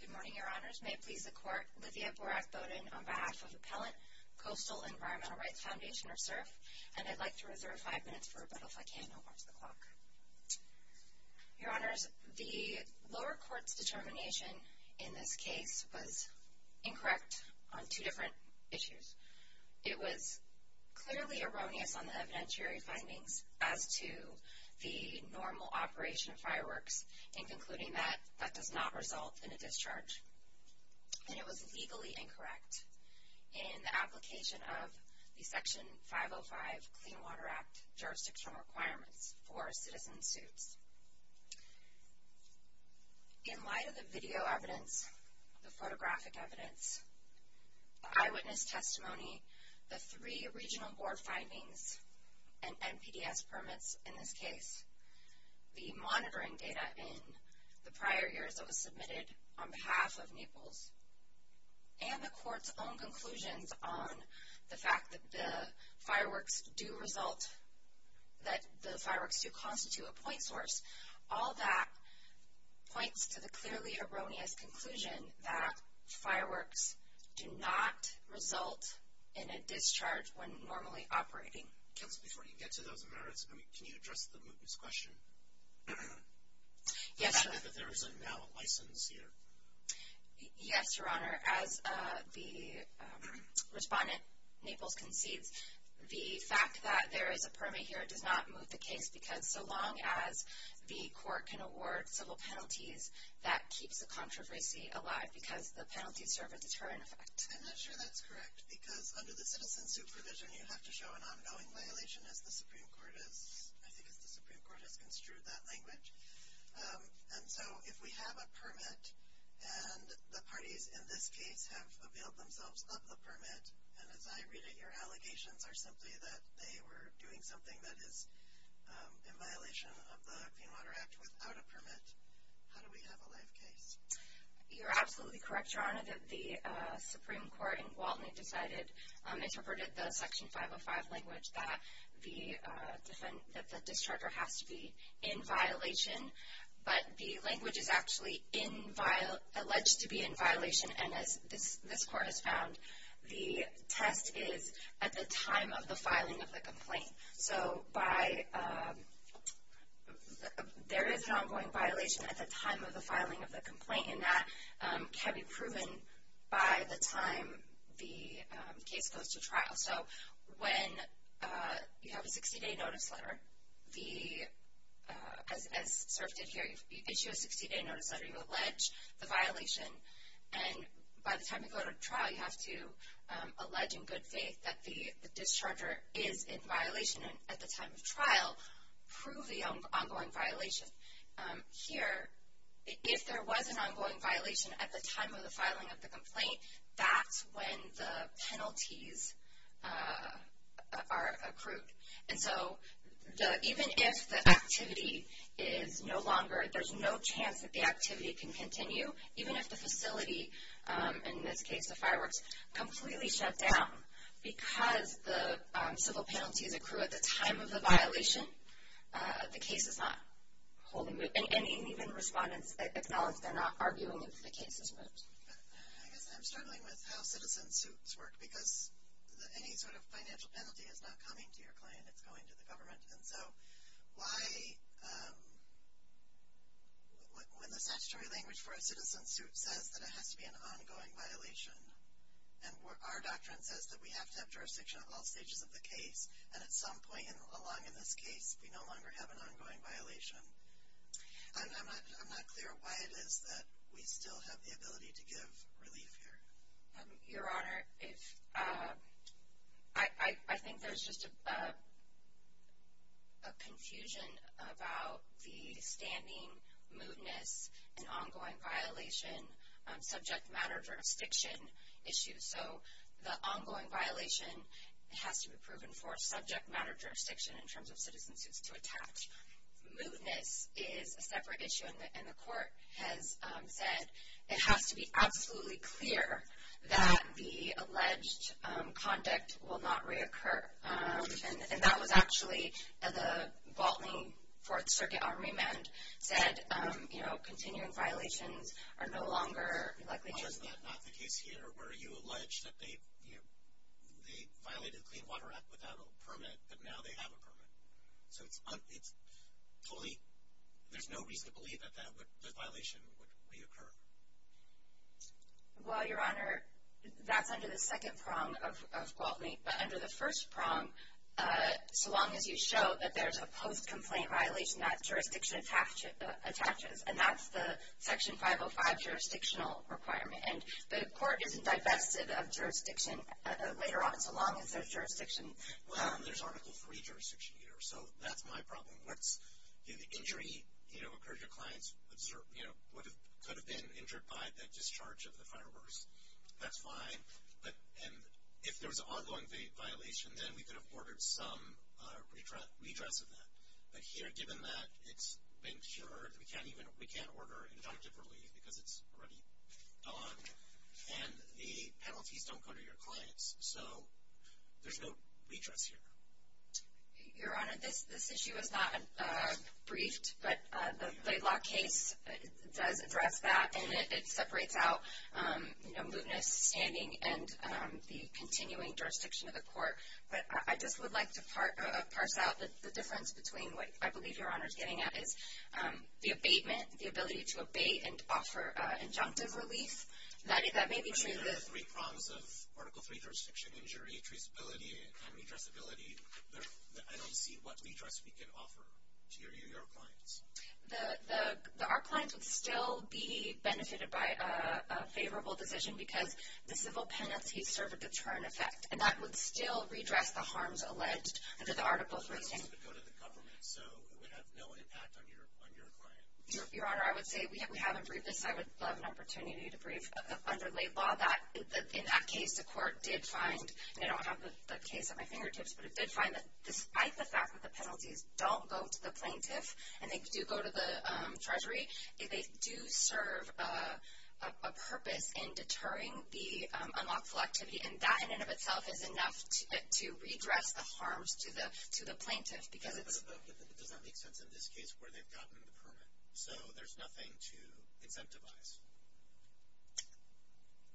Good morning, Your Honors. May it please the Court, Lythia Borak Bowden on behalf of Appellant Coastal Environmental Rights Foundation, or CERF, and I'd like to reserve five minutes for rebuttal, if I can. I'll watch the clock. Your Honors, the lower court's determination in this case was incorrect on two different issues. It was clearly erroneous on the evidentiary findings as to the normal operation of fireworks, and concluding that that does not result in a discharge. And it was legally incorrect in the application of the Section 505 Clean Protection Requirements for citizen suits. In light of the video evidence, the photographic evidence, the eyewitness testimony, the three regional board findings, and NPDES permits in this case, the monitoring data in the prior years that was submitted on behalf of Naples, and the court's own conclusions on the fact that the fireworks do result, that the fireworks do constitute a point source, all that points to the clearly erroneous conclusion that fireworks do not result in a discharge when normally operating. Counsel, before you get to those merits, can you address the mootness question? Yes, Your Honor. That there is now a license here. Yes, Your Honor. As the respondent, Naples, concedes, the fact that there is a permit here does not moot the case, because so long as the court can award civil penalties, that keeps the controversy alive, because the penalties serve a deterrent effect. I'm not sure that's correct, because under the citizen suit provision, you have to show an ongoing violation, as the Supreme Court has construed that language. And so, if we have a permit, and the parties in this case have availed themselves of the permit, and as I read it, your allegations are simply that they were doing something that is in violation of the Clean Water Act without a permit. How do we have a live case? You're absolutely correct, Your Honor, that the Supreme Court in Gwaltney decided, interpreted the Section 505 language that the discharger has to be in violation, but the language is alleged to be in violation, and as this court has found, the test is at the time of the filing of the complaint. So, there is an ongoing violation at the time of the filing of the complaint, and that can be proven by the time the case goes to trial. So, when you have a 60-day notice letter, as SRF did here, you issue a 60-day notice letter, you allege the violation, and by the time you go to trial, you have to allege in good faith that the discharger is in violation at the time of trial, prove the ongoing violation. Here, if there was an ongoing violation at the time of the filing of the complaint, that's when the penalties are accrued. And so, even if the activity is no longer, there's no chance that the activity can continue, even if the facility, in this case the fireworks, completely shut down, because the civil penalties accrue at the time of the violation, the case is not holding, and even respondents acknowledge they're not arguing that the case has moved. I guess I'm struggling with how citizen suits work, because any sort of financial penalty is not coming to your client, it's going to the government. And so, why, when the statutory language for a citizen suit says that it has to be an ongoing violation, and our doctrine says that we have to have jurisdiction at all stages of the case, and at some point along in this case, we no longer have an ongoing violation, I'm not clear why it is that we still have the ability to give relief here. Your Honor, I think there's just a confusion about the standing, mootness, and ongoing violation, subject matter jurisdiction issues. So, the ongoing violation has to be proven for subject matter jurisdiction in terms of citizen suits to attach. Mootness is a separate issue, and the court has said it has to be absolutely clear that the alleged conduct will not reoccur. And that was actually, the Baltimore Fourth Circuit armament said, you know, continuing violations are no longer likely. Was that not the case here, where you allege that they violated the Clean Water Act without a federal permit, but now they have a permit? So, it's totally, there's no reason to believe that that violation would reoccur. Well, Your Honor, that's under the second prong of Gwaltney, but under the first prong, so long as you show that there's a post-complaint violation that jurisdiction attaches, and that's the Section 505 jurisdictional requirement. And the court isn't divested of jurisdiction later on, so long as there's jurisdiction. Well, there's Article 3 jurisdiction here, so that's my problem. What's, you know, the injury, you know, occurred, your clients, you know, could have been injured by that discharge of the fireworks. That's fine, but, and if there was an ongoing violation, then we could have ordered some redress of that. But here, given that it's been cured, we can't even, we can't order injunctive relief because it's already gone. And the penalties don't apply to your clients. So, there's no redress here. Your Honor, this issue is not briefed, but the Laidlaw case does address that, and it separates out, you know, mootness, standing, and the continuing jurisdiction of the court. But I just would like to parse out the difference between what I believe Your Honor's getting at is the abatement, the ability to abate and offer injunctive relief. That may be true. There are three prongs of Article 3 jurisdiction, injury, traceability, and redressability. I don't see what redress we can offer to your New York clients. The, our clients would still be benefited by a favorable decision because the civil penalties serve a deterrent effect, and that would still redress the harms alleged under the Article 3 standard. The redress would go to the government, so it would have no impact on your client. Your Honor, I would say we haven't briefed this. I would love an opportunity to brief under Laidlaw that, in that case, the court did find, and I don't have the case at my fingertips, but it did find that despite the fact that the penalties don't go to the plaintiff, and they do go to the treasury, they do serve a purpose in deterring the unlawful activity, and that in and of itself is enough to redress the harms to the plaintiff because it's... But it doesn't make sense in this case where they've gotten the permit, so there's nothing to incentivize.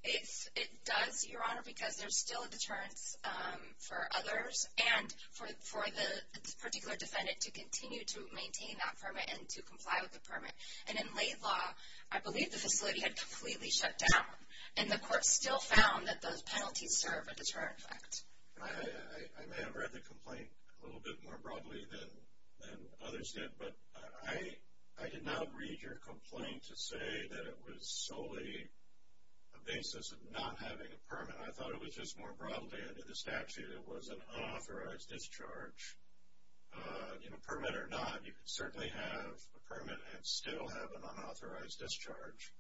It does, Your Honor, because there's still a deterrence for others and for the particular defendant to continue to maintain that permit and to comply with the permit. And in Laidlaw, I believe the facility had completely shut down, and the court still found that those penalties serve a deterrent effect. I may have read the complaint a little bit more broadly than others did, but I did not read your complaint to say that it was solely a basis of not having a permit. I thought it was just more broadly under the statute it was an unauthorized discharge. Permit or not, you can certainly have a permit and still have an unauthorized discharge.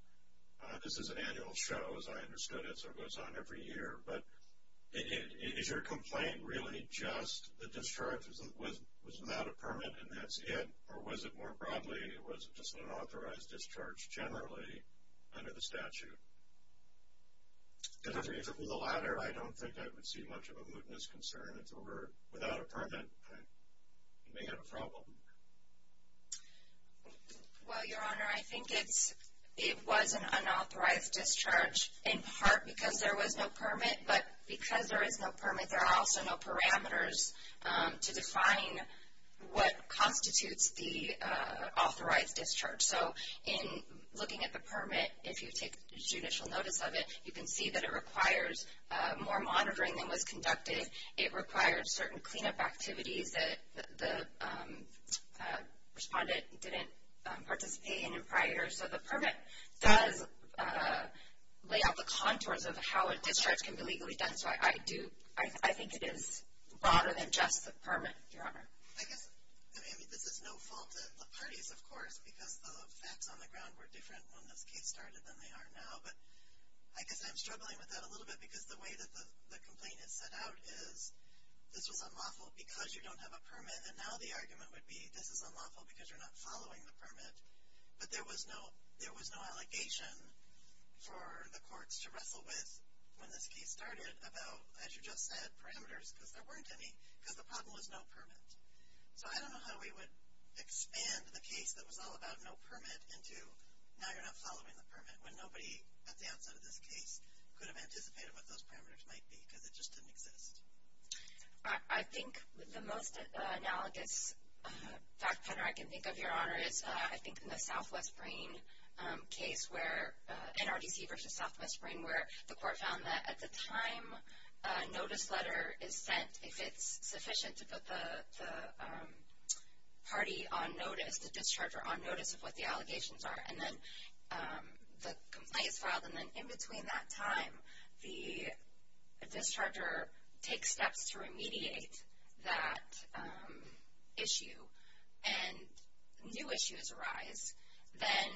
This is an annual show, as I understood it, so it goes on every year, but is your complaint really just the discharge was without a permit and that's it? Or was it more broadly, was it just an unauthorized discharge generally under the statute? If it were the latter, I don't think I would see much of a mootness concern. If it were without a permit, I may have a problem. Well, Your Honor, I think it was an unauthorized discharge in part because there was no permit, but because there is no permit, there are also no parameters to define what constitutes the authorized discharge. In looking at the permit, if you take judicial notice of it, you can see that it requires more monitoring than was conducted. It required certain cleanup activities that the respondent didn't participate in prior. So the permit does lay out the contours of how a discharge can be legally done. So I do, I think it is broader than just the permit, Your Honor. I guess, I mean, this is no fault of the parties, of course, because the facts on the ground were different when this case started than they are now, but I guess I'm struggling with that a little bit because the way that the complaint is set out is this was unlawful because you don't have a permit, and now the argument would be this is unlawful because you're not following the permit, but there was no, there was no allegation for the courts to wrestle with when this case started about, as you just said, parameters, because there weren't any, because the problem was no permit. So I don't know how we would expand the case that was all about no permit into now you're not following the permit, when nobody at the outset of this case could have anticipated what those parameters might be, because it just didn't exist. I think the most analogous fact pattern I can think of, Your Honor, is, I think, in the Southwest Brain case where, NRDC versus Southwest Brain, where the court found that at the time a notice letter is sent, if it's sufficient to put the party on notice, the discharger on notice of what the allegations are, and then the complaint is filed, and in between that time, the discharger takes steps to remediate that issue, and new issues arise, then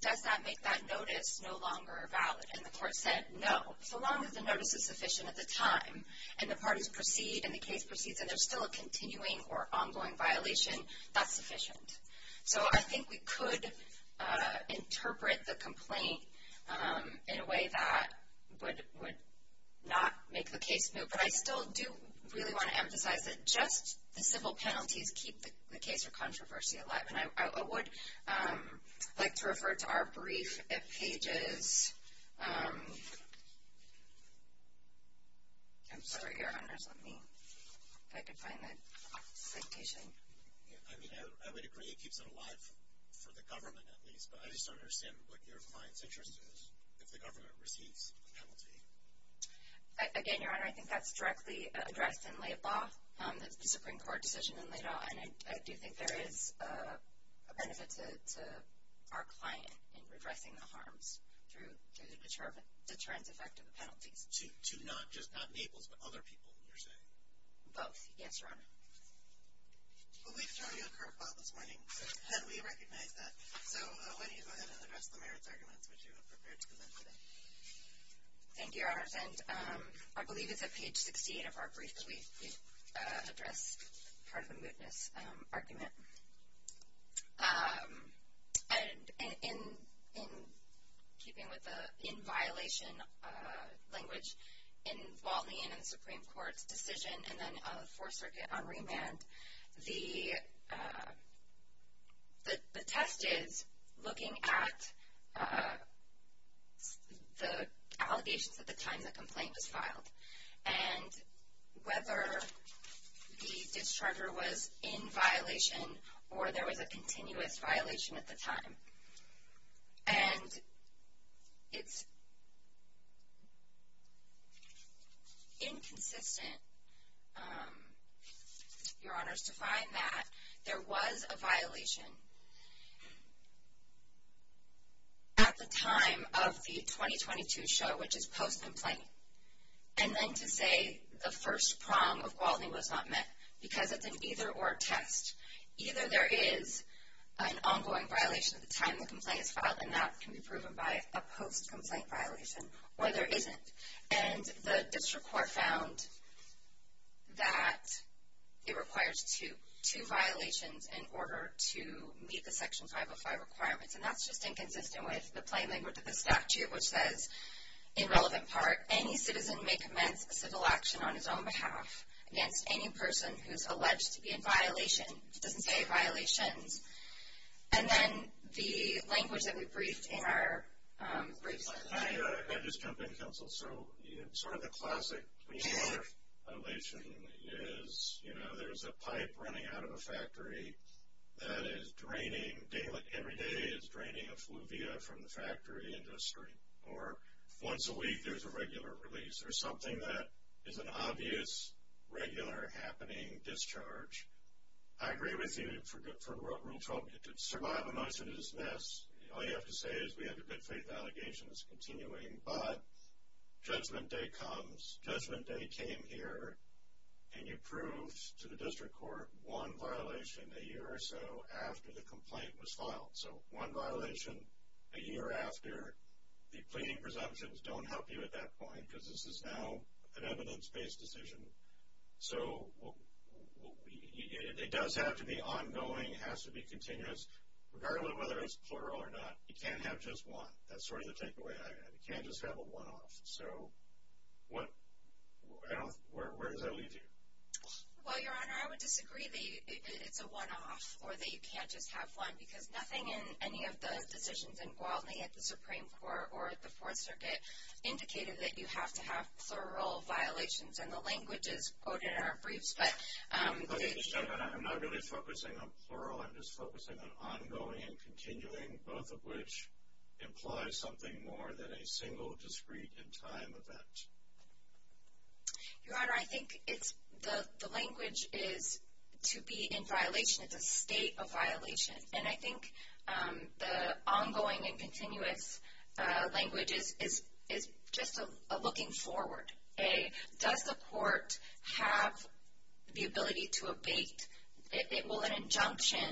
does that make that notice no longer valid? And the court said no. So long as the notice is sufficient at the time, and the parties proceed, and the case proceeds, and there's still a continuing or ongoing violation, that's sufficient. So I think we could interpret the complaint in a way that would not make the case move. But I still do really want to emphasize that just the simple penalties keep the case or controversy alive. And I would like to refer to our brief at pages, I'm sorry, Your Honors, let me, if I could find that citation. I mean, I would agree it keeps it alive for the government, at least, but I just don't understand what your client's interest is if the government receives a penalty. Again, Your Honor, I think that's directly addressed in Laid Law, that's the Supreme Court decision in Laid Law, and I do think there is a benefit to our client in redressing the harms through the deterrence effect of the penalties. To not just not Naples, but other people, you're saying? Both, yes, Your Honor. Well, we've thrown you a curve ball this morning, and we recognize that. So why don't you go ahead and address the merits arguments which you have prepared to present today? Thank you, Your Honors, and I believe it's at page 68 of our brief that we address part of the mootness argument. And in keeping with the in-violation language, in Walton Ian and the Supreme Court's decision and then on the Fourth Circuit on remand, the test is looking at the allegations at the time the complaint was filed and whether the discharger was in violation or there was a continuous violation at the time. And it's inconsistent, Your Honors, to find that there was a violation at the time of the 2022 show, which is post-complaint, and then to say the first prong of Walton Ian was not met because of an either or test. Either there is an ongoing violation at the time the complaint is filed, and that can be proven by a post-complaint violation, or there isn't. And the district court found that it requires two violations in order to meet the Section 505 requirements, and that's just inconsistent with the plain language of the statute, which says, in relevant part, any citizen may commence a civil action on his own behalf against any person who's alleged to be in violation. It doesn't say violations. And then the language that we briefed in our briefs last night. I just jumped in, Counsel. So sort of the classic police violation is, you know, there's a pipe running out of a factory that is draining daily. Every day is draining effluvia from the factory industry. Or once a week there's a regular release. There's something that is an obvious, regular-happening discharge. I agree with you for Rule 12. To survive a motion is to dismiss. All you have to say is, we have a good-faith allegation that's continuing. But judgment day comes. Judgment day came here, and you proved to the district court one violation a year or so after the complaint was filed. So one violation a year after. The pleading presumptions don't help you at that point because this is now an evidence-based decision. So it does have to be ongoing. It has to be continuous. Regardless of whether it's plural or not, you can't have just one. That's sort of the takeaway. You can't just have a one-off. So where does that leave you? Well, Your Honor, I would disagree that it's a one-off or that you can't just have one because nothing in any of the decisions in Gwaltney at the Supreme Court or at the Fourth Circuit indicated that you have to have plural violations. And the language is quoted in our briefs. I'm not really focusing on plural. I'm just focusing on ongoing and continuing, both of which imply something more than a single, discrete, in-time event. Your Honor, I think the language is to be in violation. It's a state of violation. And I think the ongoing and continuous language is just a looking forward. Does the court have the ability to abate? Will an injunction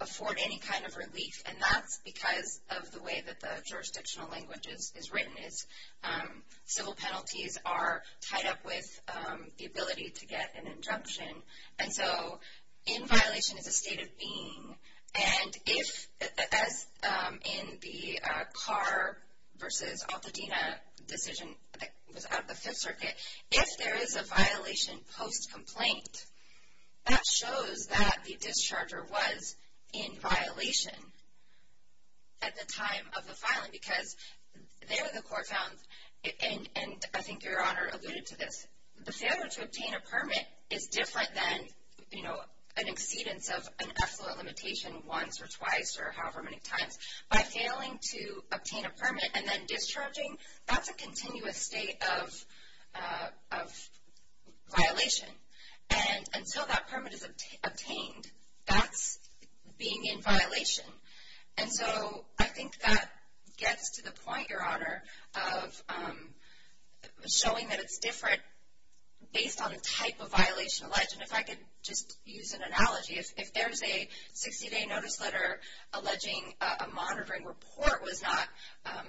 afford any kind of relief? And that's because of the way that the jurisdictional language is written. Civil penalties are tied up with the ability to get an injunction. And so in violation is a state of being. And if, as in the Carr v. Altadena decision that was out of the Fifth Circuit, if there is a violation post-complaint, that shows that the discharger was in violation at the time of the filing because there the court found, and I think Your Honor alluded to this, that the failure to obtain a permit is different than an exceedance of an effluent limitation once or twice or however many times. By failing to obtain a permit and then discharging, that's a continuous state of violation. And until that permit is obtained, that's being in violation. And so I think that gets to the point, Your Honor, of showing that it's different based on the type of violation alleged. And if I could just use an analogy, if there's a 60-day notice letter alleging a monitoring report was not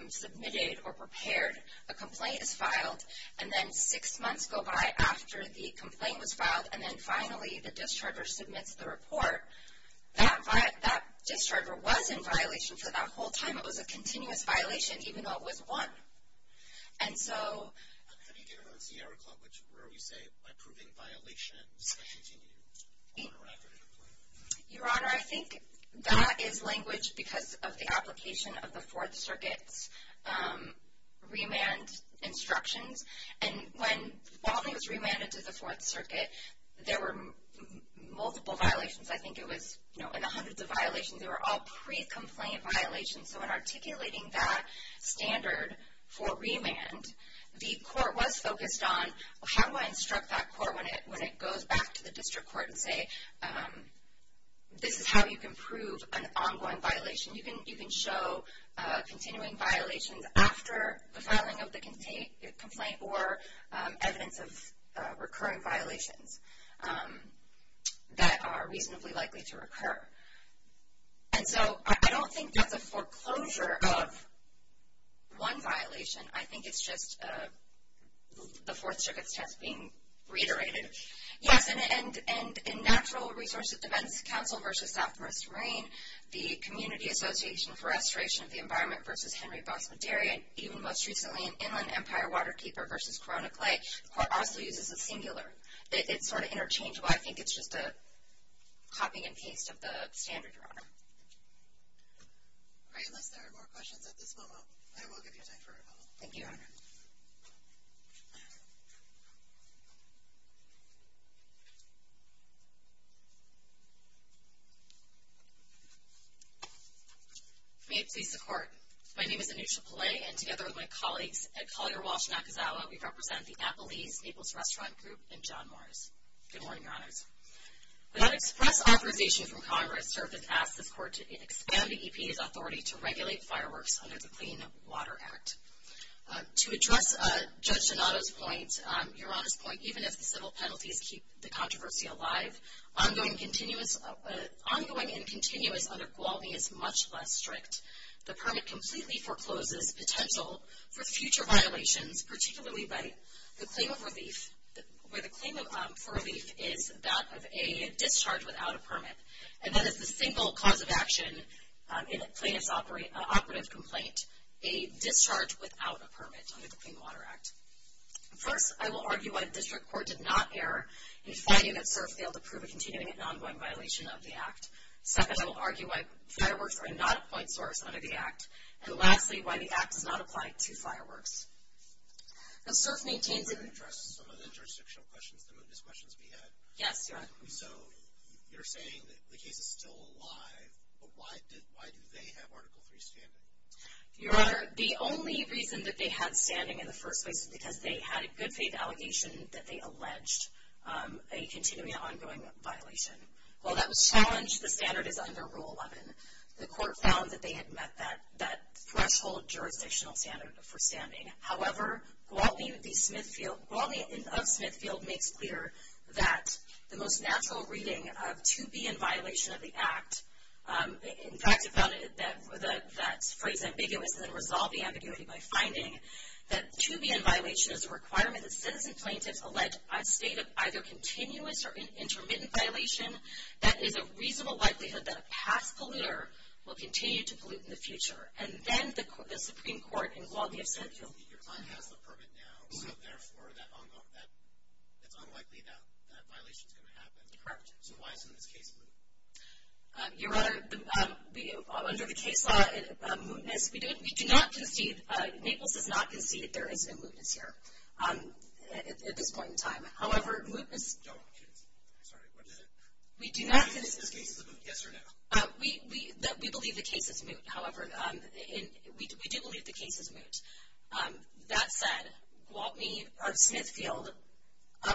submitted or prepared, a complaint is filed, and then six months go by after the complaint was filed, and then finally the discharger submits the report, that discharger was in violation for that whole time. It was a continuous violation, even though it was one. And so... How do you get around Sierra Club, which is where we say, by proving violations, I should continue on or after the complaint? Your Honor, I think that is language because of the application of the Fourth Circuit's remand instructions. And when Baltimore was remanded to the Fourth Circuit, there were multiple violations. I think it was in the hundreds of violations, they were all pre-complaint violations. So in articulating that standard for remand, the court was focused on, how do I instruct that court when it goes back to the district court and say, this is how you can prove an ongoing violation. You can show continuing violations after the filing of the complaint or evidence of recurring violations that are reasonably likely to occur. And so, I don't think that's a foreclosure of one violation, I think it's just the Fourth Circuit's test being reiterated. Yes, and in Natural Resources Defense Council v. Southwest Marine, the Community Association for Restoration of the Environment v. Henry Bosman Dairy, and even most recently in Inland Empire Waterkeeper v. Corona Clay, the court also uses a singular. It's sort of interchangeable, I think it's just a copying and pasting of the standard, Your Honor. All right, unless there are more questions at this moment, I will give you time for rebuttal. Thank you, Your Honor. May it please the Court. My name is Anusha Pillay, and together with my colleagues at Collier Walsh Nakazawa, we represent the Appalese Naples Restaurant Group and John Morris. Good morning, Your Honors. Without express authorization from Congress, servants ask this Court to expand the EPA's authority to regulate fireworks under the Clean Water Act. To address Judge Donato's point, Your Honor's point, even if the civil penalties keep the controversy alive, ongoing and continuous under Gwaltney is much less strict. The permit completely forecloses potential for future violations, particularly by the claim of relief, where the claim for relief is that of a discharge without a permit. And that is the single cause of action in a plaintiff's operative complaint, a discharge without a permit under the Clean Water Act. First, I will argue why the District Court did not err in finding that SIRF failed to prove a continuing and ongoing violation of the Act. Second, I will argue why fireworks are not a point source under the Act. And lastly, why the Act does not apply to fireworks. Now, SIRF maintains that... Let me address some of the jurisdictional questions, the mootness questions we had. Yes, Your Honor. So, you're saying that the case is still alive, but why do they have Article III standing? Your Honor, the only reason that they had standing in the first place is because they had a good faith allegation that they alleged a continuing and ongoing violation. While that was challenged, the standard is under Rule 11. The Court found that they had met that threshold jurisdictional standard for standing. However, Gwaltney of Smithfield makes clear that the most natural reading of 2B in violation of the Act... In fact, it found that phrase ambiguous and then resolved the ambiguity by finding that 2B in violation is a requirement that citizen plaintiffs allege a state of either continuous or intermittent violation. That is a reasonable likelihood that a past polluter will continue to pollute in the future. And then the Supreme Court in Gwaltney of Smithfield... Your client has the permit now. So, therefore, that's unlikely that that violation is going to happen. Correct. So, why isn't this case moot? Your Honor, under the case law mootness, we do not concede... Naples does not concede there is a mootness here at this point in time. However, mootness... No, I'm kidding. I'm sorry. What is it? We do not... We believe this case is moot, yes or no? We believe the case is moot. However, we do believe the case is moot. That said, Gwaltney of Smithfield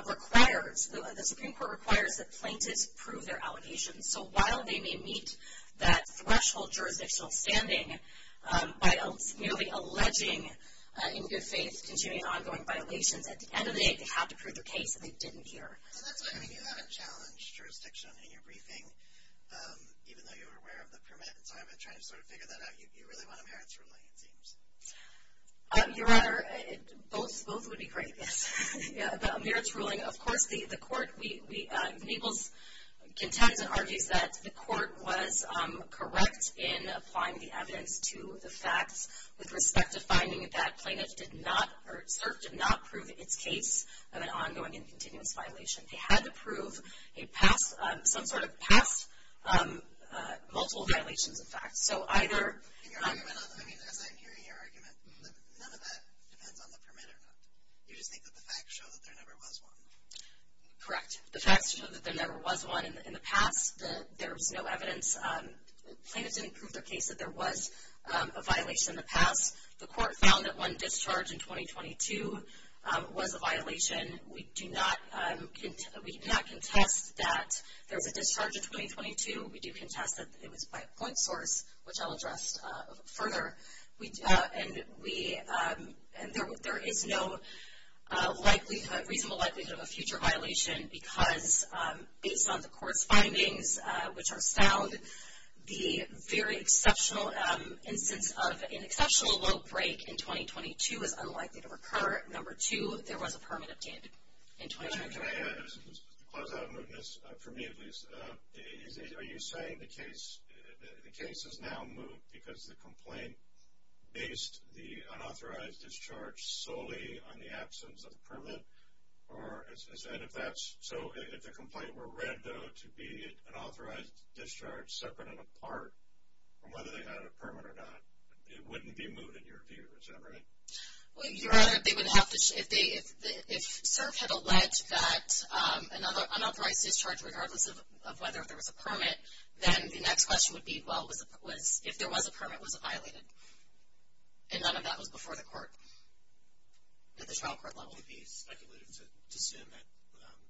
requires... The Supreme Court requires that plaintiffs prove their allegations. So, while they may meet that threshold jurisdictional standing by merely alleging, in good faith, continuing ongoing violations, at the end of the day, they have to prove their case that they didn't hear. And that's why, I mean, you haven't challenged jurisdiction in your briefing, even though you were aware of the permit. And so, I've been trying to sort of figure that out. You really want a merits ruling, it seems. Your Honor, both would be great. Yes. Yeah, the merits ruling. Of course, the court... Naples contends and argues that the court was correct in applying the evidence to the facts with respect to finding that plaintiff did not or cert did not prove its case of an ongoing and continuous violation. They had to prove some sort of past multiple violations, in fact. So, either... I mean, as I'm hearing your argument, none of that depends on the permit or not. You just think that the facts show that there never was one. Correct. The facts show that there never was one. In the past, there was no evidence. Plaintiffs didn't prove their case that there was a violation in the past. The court found that one discharge in 2022 was a violation. We do not contest that there was a discharge in 2022. We do contest that it was by a point source, which I'll address further. There is no reasonable likelihood of a future violation because, based on the court's findings, which are sound, the very exceptional instance of an exceptional low break in 2022 is unlikely to recur. Number two, there was a permit obtained in 2022. To close out of mootness, for me at least, are you saying the case is now moot because the complaint based the unauthorized discharge solely on the absence of a permit? Or is that if that's... So, if the complaint were read, though, to be an authorized discharge separate and apart from whether they had a permit or not, it wouldn't be moot in your view. Is that right? Well, you're right. They would have to... If CERF had alleged that an unauthorized discharge, regardless of whether there was a permit, then the next question would be, well, if there was a permit, was it violated? And none of that was before the court at the trial court level. It would be speculated to assume that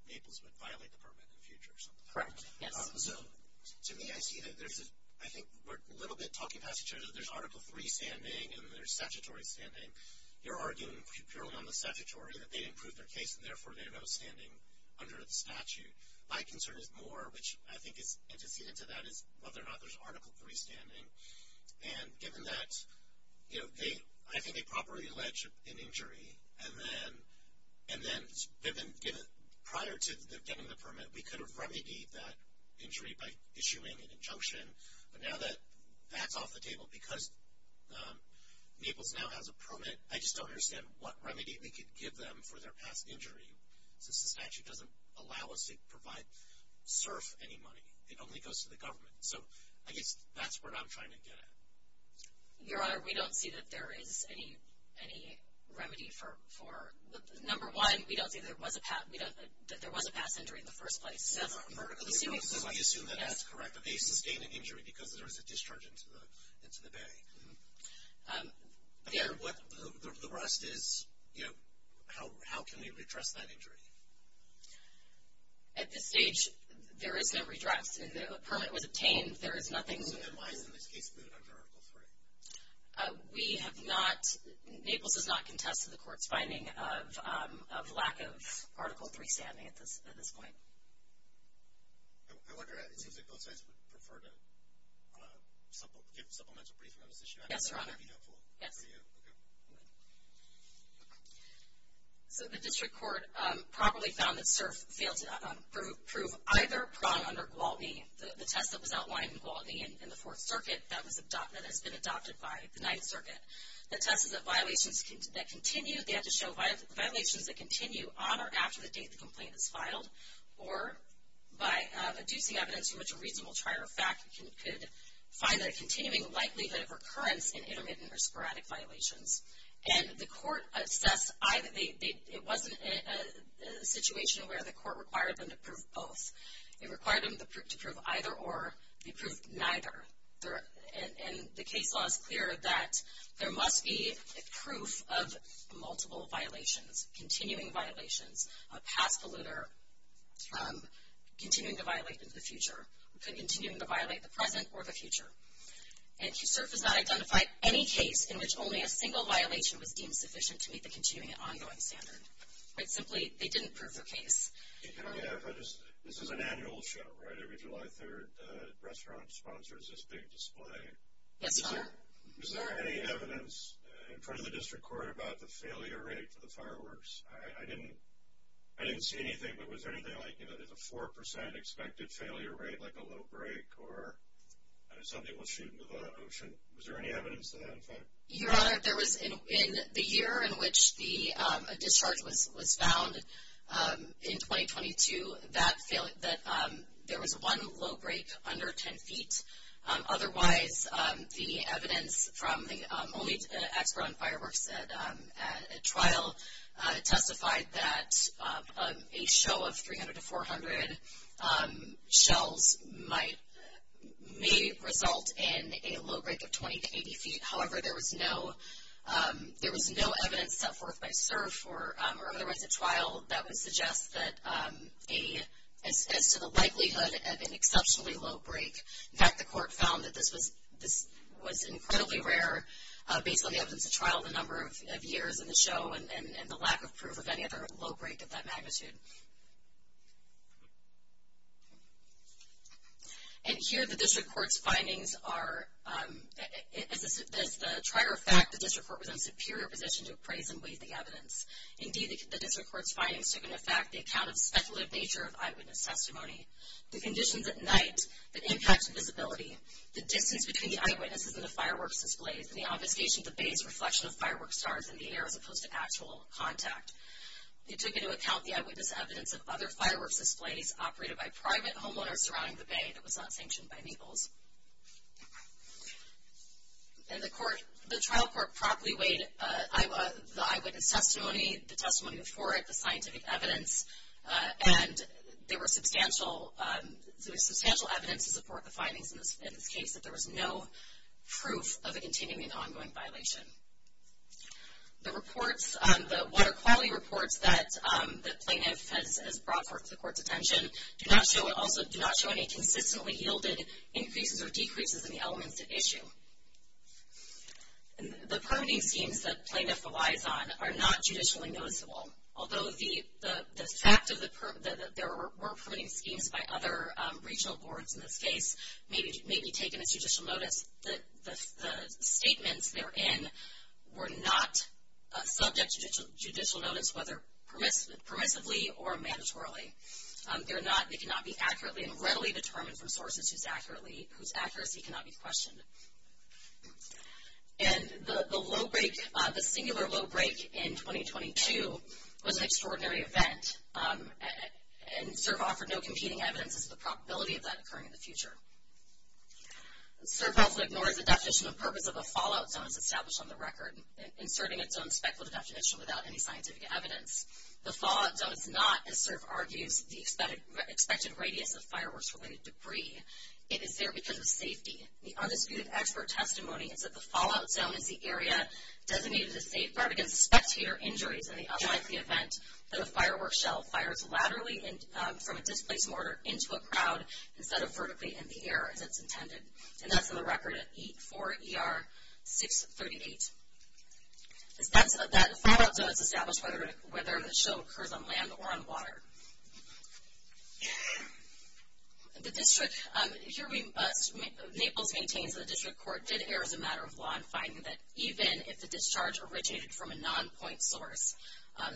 Naples would violate the permit in the future or something. Correct, yes. So, to me, I see that there's a... I think we're a little bit talking past each other. So, there's Article III standing and there's statutory standing. You're arguing purely on the statutory that they didn't prove their case and, therefore, they're not standing under the statute. My concern is more, which I think is antecedent to that, is whether or not there's Article III standing. And given that, you know, they... I think they properly alleged an injury. And then they've been given... Prior to them getting the permit, we could have remedied that injury by issuing an injunction. But now that that's off the table, because Naples now has a permit, I just don't understand what remedy we could give them for their past injury. Since the statute doesn't allow us to provide... surf any money. It only goes to the government. So, I guess that's what I'm trying to get at. Your Honor, we don't see that there is any remedy for... Number one, we don't see that there was a past injury in the first place. So, I assume that that's correct. But they sustained an injury because there was a discharge into the bay. The rest is, you know, how can we redress that injury? At this stage, there is no redress. A permit was obtained. There is nothing... So, then why is this case excluded under Article III? We have not... Article III standing at this point. I wonder... It seems like both sides would prefer to give a supplemental briefing on this issue. Yes, Your Honor. That would be helpful for you. Yes. Okay. So, the District Court properly found that surf failed to prove either prong under Gwaltney. The test that was outlined in Gwaltney in the Fourth Circuit, that has been adopted by the Ninth Circuit. The test is that violations that continue... They had to show violations that continue on or after the date the complaint is filed. Or, by deducing evidence from which a reasonable trier of fact could find a continuing likelihood of recurrence in intermittent or sporadic violations. And the court assessed either... It wasn't a situation where the court required them to prove both. It required them to prove either or. They proved neither. And the case law is clear that there must be proof of multiple violations. Continuing violations. A past polluter continuing to violate the future. Continuing to violate the present or the future. And QSERF has not identified any case in which only a single violation was deemed sufficient to meet the continuing and ongoing standard. Simply, they didn't prove the case. This is an annual show, right? Every July 3rd, the restaurant sponsors this big display. Yes, Your Honor. Is there any evidence in front of the district court about the failure rate for the fireworks? I didn't see anything, but was there anything like a 4% expected failure rate, like a low break? Or, somebody will shoot into the ocean. Was there any evidence to that effect? Your Honor, there was... In the year in which the discharge was found, in 2022, that there was one low break under 10 feet. Otherwise, the evidence from the only expert on fireworks at trial testified that a show of 300 to 400 shells may result in a low break of 20 to 80 feet. However, there was no evidence set forth by QSERF or otherwise at trial that would suggest that as to the likelihood of an exceptionally low break. In fact, the court found that this was incredibly rare based on the evidence at trial, the number of years in the show, and the lack of proof of any other low break of that magnitude. And here, the district court's findings are... As a trier of fact, the district court was in a superior position to appraise and weigh the evidence. Indeed, the district court's findings took into fact the account of the speculative nature of eyewitness testimony, the conditions at night that impact visibility, the distance between the eyewitnesses and the fireworks displays, and the obfuscation of the base reflection of firework stars in the air as opposed to actual contact. It took into account the eyewitness evidence of other fireworks displays operated by private homeowners surrounding the bay that was not sanctioned by Naples. And the trial court properly weighed the eyewitness testimony, the testimony before it, the scientific evidence, and there was substantial evidence to support the findings in this case that there was no proof of a continuing ongoing violation. The reports, the water quality reports that plaintiff has brought forth to the court's attention do not show any consistently yielded increases or decreases in the elements at issue. The permitting schemes that plaintiff relies on are not judicially noticeable. Although the fact that there were permitting schemes by other regional boards in this case may be taken as judicial notice, the statements therein were not subject to judicial notice, whether permissively or mandatorily. They cannot be accurately and readily determined from sources whose accuracy cannot be questioned. And the low break, the singular low break in 2022 was an extraordinary event. And CERF offered no competing evidence as to the probability of that occurring in the future. CERF also ignores the definition of purpose of a fallout zone as established on the record, inserting its own speculative definition without any scientific evidence. The fallout zone is not, as CERF argues, the expected radius of fireworks-related debris. It is there because of safety. The undisputed expert testimony is that the fallout zone is the area designated a safe part against the spectator injuries in the unlikely event that a firework shell fires laterally from a displaced mortar into a crowd instead of vertically in the air as it's intended. And that's in the record for ER 638. That fallout zone is established whether the shell occurs on land or on water. The district, here we, Naples maintains that the district court did err as a matter of law in finding that even if the discharge originated from a non-point source,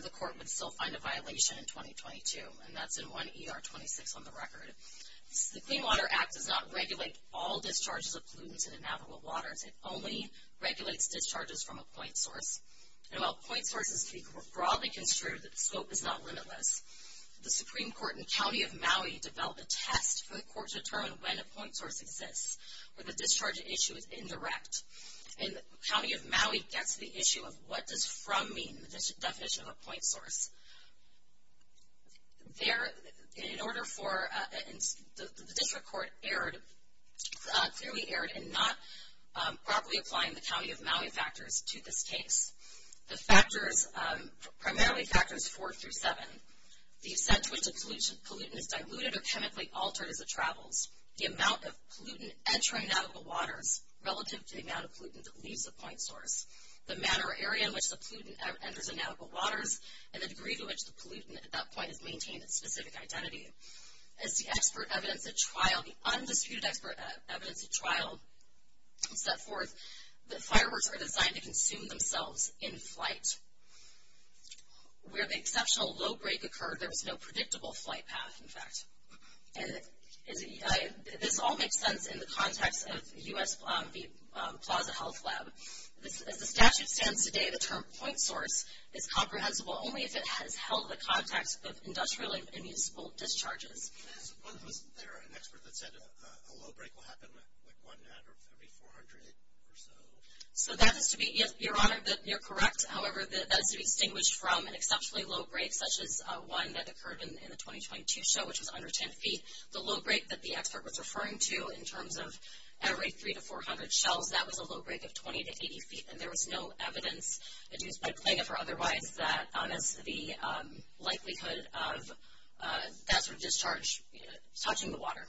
the court would still find a violation in 2022. And that's in 1 ER 26 on the record. The Clean Water Act does not regulate all discharges of pollutants into navigable waters. It only regulates discharges from a point source. And while point sources can be broadly construed, the scope is not limitless. The Supreme Court in the County of Maui developed a test for the court to determine when a point source exists, where the discharge issue is indirect. And the County of Maui gets the issue of what does from mean, the definition of a point source. There, in order for, the district court erred, clearly erred, in not properly applying the County of Maui factors to this case. The factors, primarily factors four through seven. The extent to which a pollutant is diluted or chemically altered as it travels. The amount of pollutant entering navigable waters, relative to the amount of pollutant that leaves the point source. The manner or area in which the pollutant enters navigable waters, and the degree to which the pollutant at that point has maintained its specific identity. As the expert evidence at trial, the undisputed expert evidence at trial set forth, that fireworks are designed to consume themselves in flight. Where the exceptional low break occurred, there was no predictable flight path, in fact. This all makes sense in the context of U.S. Plaza Health Lab. As the statute stands today, the term point source is comprehensible, only if it has held the context of industrial and municipal discharges. Wasn't there an expert that said a low break will happen one out of every 400 or so? So that is to be, your honor, you're correct. However, that is to be distinguished from an exceptionally low break, such as one that occurred in the 2022 show, which was under 10 feet. The low break that the expert was referring to, in terms of every 300 to 400 shells, that was a low break of 20 to 80 feet. And there was no evidence, by plain or otherwise, that there was the likelihood of that sort of discharge touching the water.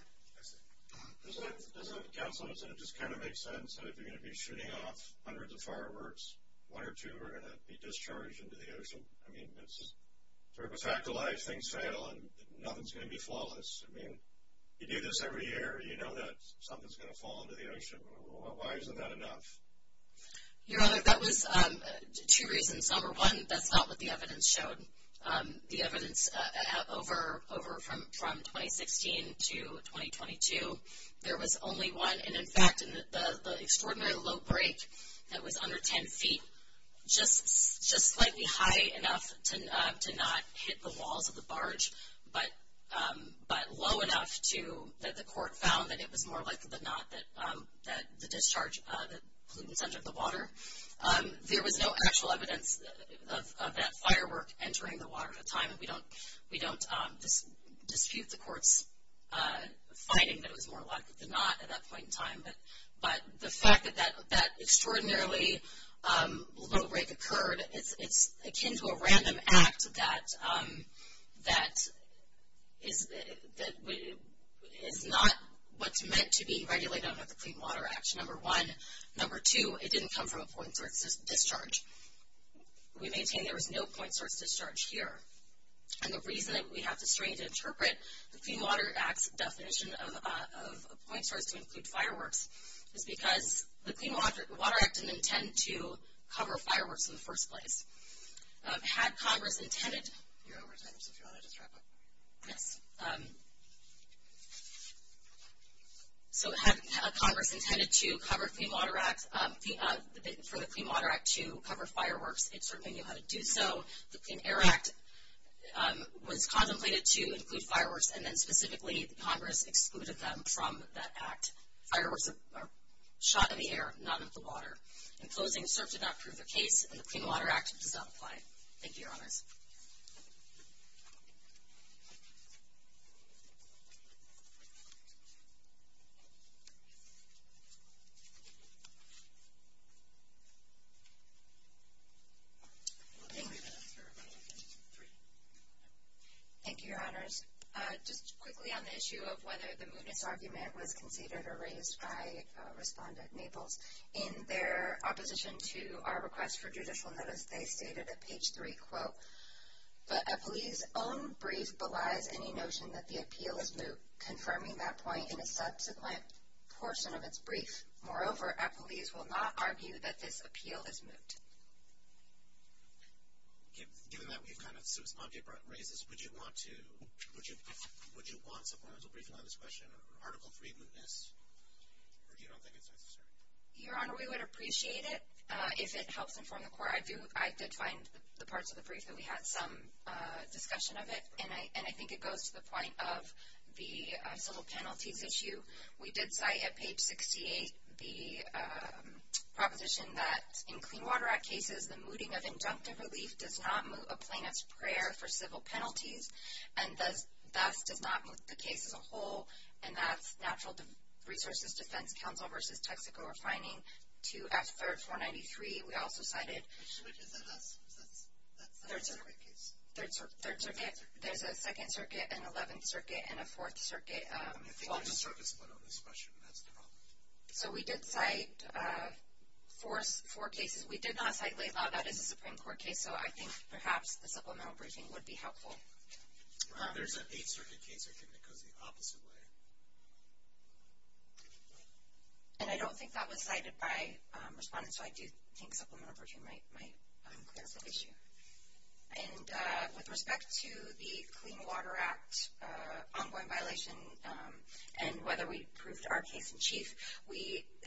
Doesn't it make sense that if you're going to be shooting off hundreds of fireworks, one or two are going to be discharged into the ocean? I mean, it's a fact of life, things fail, and nothing's going to be flawless. You do this every year, you know that something's going to fall into the ocean. Why isn't that enough? Your honor, that was two reasons. Number one, that's not what the evidence showed. The evidence over from 2016 to 2022, there was only one. And in fact, the extraordinary low break that was under 10 feet, just slightly high enough to not hit the walls of the barge, but low enough that the court found that it was more likely than not that the discharge, that pollutants entered the water. There was no actual evidence of that firework entering the water at the time. We don't dispute the court's finding that it was more likely than not at that point in time. But the fact that that extraordinarily low break occurred, it's akin to a random act that is not what's meant to be regulated under the Clean Water Act. Number one. Number two, it didn't come from a point source discharge. We maintain there was no point source discharge here. And the reason that we have to strain to interpret the Clean Water Act's definition of a point source to include fireworks, is because the Clean Water Act didn't intend to cover fireworks in the first place. Had Congress intended... You're over time, so if you want to just wrap up. Yes. So had Congress intended to cover Clean Water Act, for the Clean Water Act to cover fireworks, it certainly knew how to do so. The Clean Air Act was contemplated to include fireworks, and then specifically Congress excluded them from that act. Fireworks are shot in the air, not at the water. In closing, CERP did not prove the case, and the Clean Water Act does not apply. Thank you, Your Honors. Thank you, Your Honors. Just quickly on the issue of whether the mootness argument was conceded or raised, I respond at Naples. In their opposition to our request for judicial notice, they stated at page three, quote, But Eppley's own brief belies any notion that the appeal is moot, confirming that point in a subsequent portion of its brief. Moreover, Eppley's will not argue that this appeal is moot. Given that we've kind of smugly raised this, would you want supplemental briefing on this question, or Article 3 mootness, or do you not think it's necessary? Your Honor, we would appreciate it if it helps inform the court. I did find the parts of the brief that we had some discussion of it, and I think it goes to the point of the civil penalties issue. We did cite at page 68 the proposition that in Clean Water Act cases, the mooting of injunctive relief does not moot a plaintiff's prayer for civil penalties, and thus does not moot the case as a whole, and that's Natural Resources Defense Counsel v. Texaco refining to F3rd 493. We also cited Which circuit is that? That's the Third Circuit case. Third Circuit. There's a Second Circuit, an Eleventh Circuit, and a Fourth Circuit. I think there's a surface split on this question, and that's the problem. So we did cite four cases. We did not cite Laidlaw. That is a Supreme Court case, so I think perhaps the supplemental briefing would be helpful. There's an Eighth Circuit case, I think, that goes the opposite way. And I don't think that was cited by respondents, so I do think supplemental briefing might clear up that issue. And with respect to the Clean Water Act ongoing violation and whether we proved our case in chief,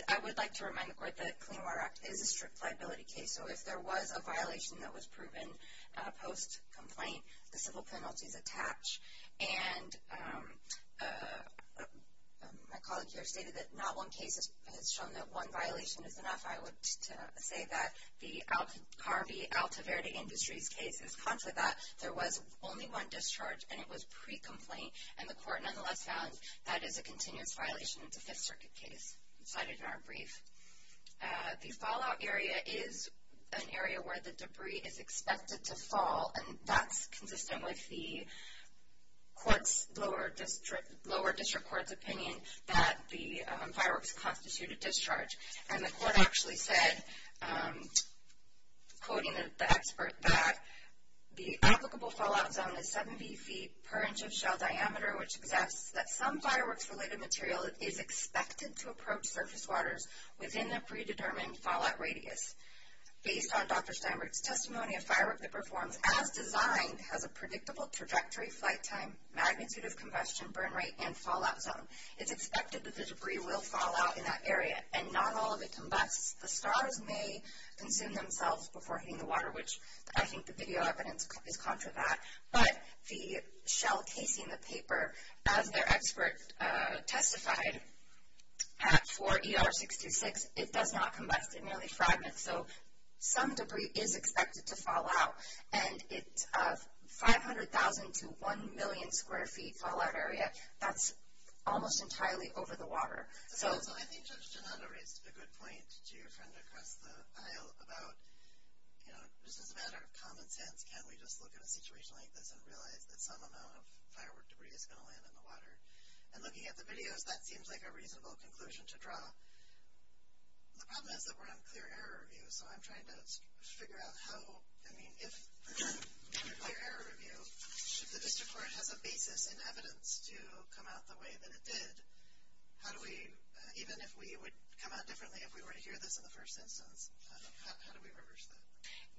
I would like to remind the Court that Clean Water Act is a strict liability case, so if there was a violation that was proven post-complaint, the civil penalties attach. And my colleague here stated that not one case has shown that one violation is enough. I would say that the Harvey Altaverde Industries case is considered that. There was only one discharge, and it was pre-complaint, and the Court nonetheless found that is a continuous violation of the Fifth Circuit case cited in our brief. The fallout area is an area where the debris is expected to fall, and that's consistent with the lower district court's opinion that the fireworks constituted discharge. And the Court actually said, quoting the expert back, the applicable fallout zone is 70 feet per inch of shell diameter, which suggests that some fireworks-related material is expected to approach surface waters within a predetermined fallout radius. Based on Dr. Steinberg's testimony, a firework that performs as designed has a predictable trajectory, flight time, magnitude of combustion, burn rate, and fallout zone. It's expected that the debris will fall out in that area and not all of it combusts. The stars may consume themselves before hitting the water, which I think the video evidence is contra that. But the shell casing, the paper, as their expert testified for ER 626, it does not combust, it merely fragments. So some debris is expected to fall out, and it's a 500,000 to 1 million square feet fallout area that's almost entirely over the water. So I think Judge Donato raised a good point to your friend across the aisle about, you know, just as a matter of common sense, can we just look at a situation like this and realize that some amount of firework debris is going to land in the water? And looking at the videos, that seems like a reasonable conclusion to draw. The problem is that we're on clear error review, so I'm trying to figure out how, I mean, if we're on clear error review, if the District Court has a basis in evidence to come out the way that it did, how do we, even if we would come out differently if we were to hear this in the first instance, how do we reverse that?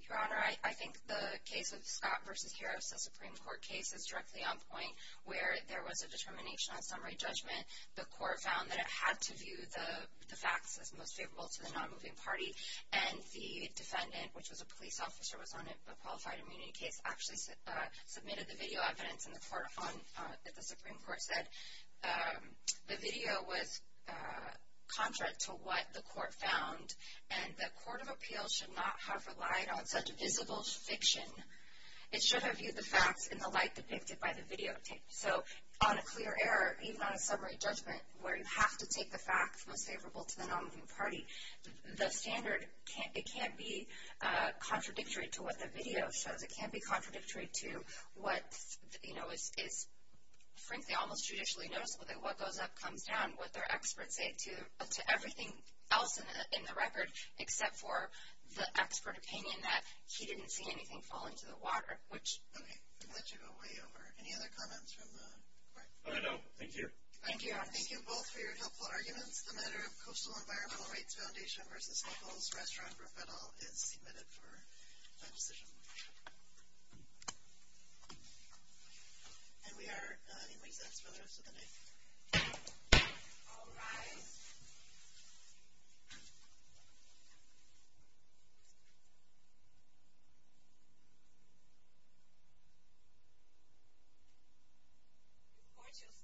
Your Honor, I think the case of Scott v. Harris, the Supreme Court case, is directly on point where there was a determination on summary judgment. The court found that it had to view the facts as most favorable to the non-moving party. And the defendant, which was a police officer, was on a qualified immunity case, actually submitted the video evidence that the Supreme Court said. The video was contrary to what the court found, and the Court of Appeals should not have relied on such visible fiction. It should have viewed the facts in the light depicted by the videotape. So, on a clear error, even on a summary judgment, where you have to take the facts most favorable to the non-moving party, the standard, it can't be contradictory to what the video shows. It can't be contradictory to what is, frankly, almost judicially noticeable. What goes up comes down. What their experts say to everything else in the record, except for the expert opinion that he didn't see anything fall into the water. Okay, I'm glad you got way over. Any other comments from the court? No, thank you. Thank you, Your Honor. Thank you both for your helpful arguments. The matter of Coastal Environmental Rights Foundation vs. Locals Restaurant for Federal is submitted for decision. And we are in recess for the rest of the night. All rise. Court shall stand at recess for today.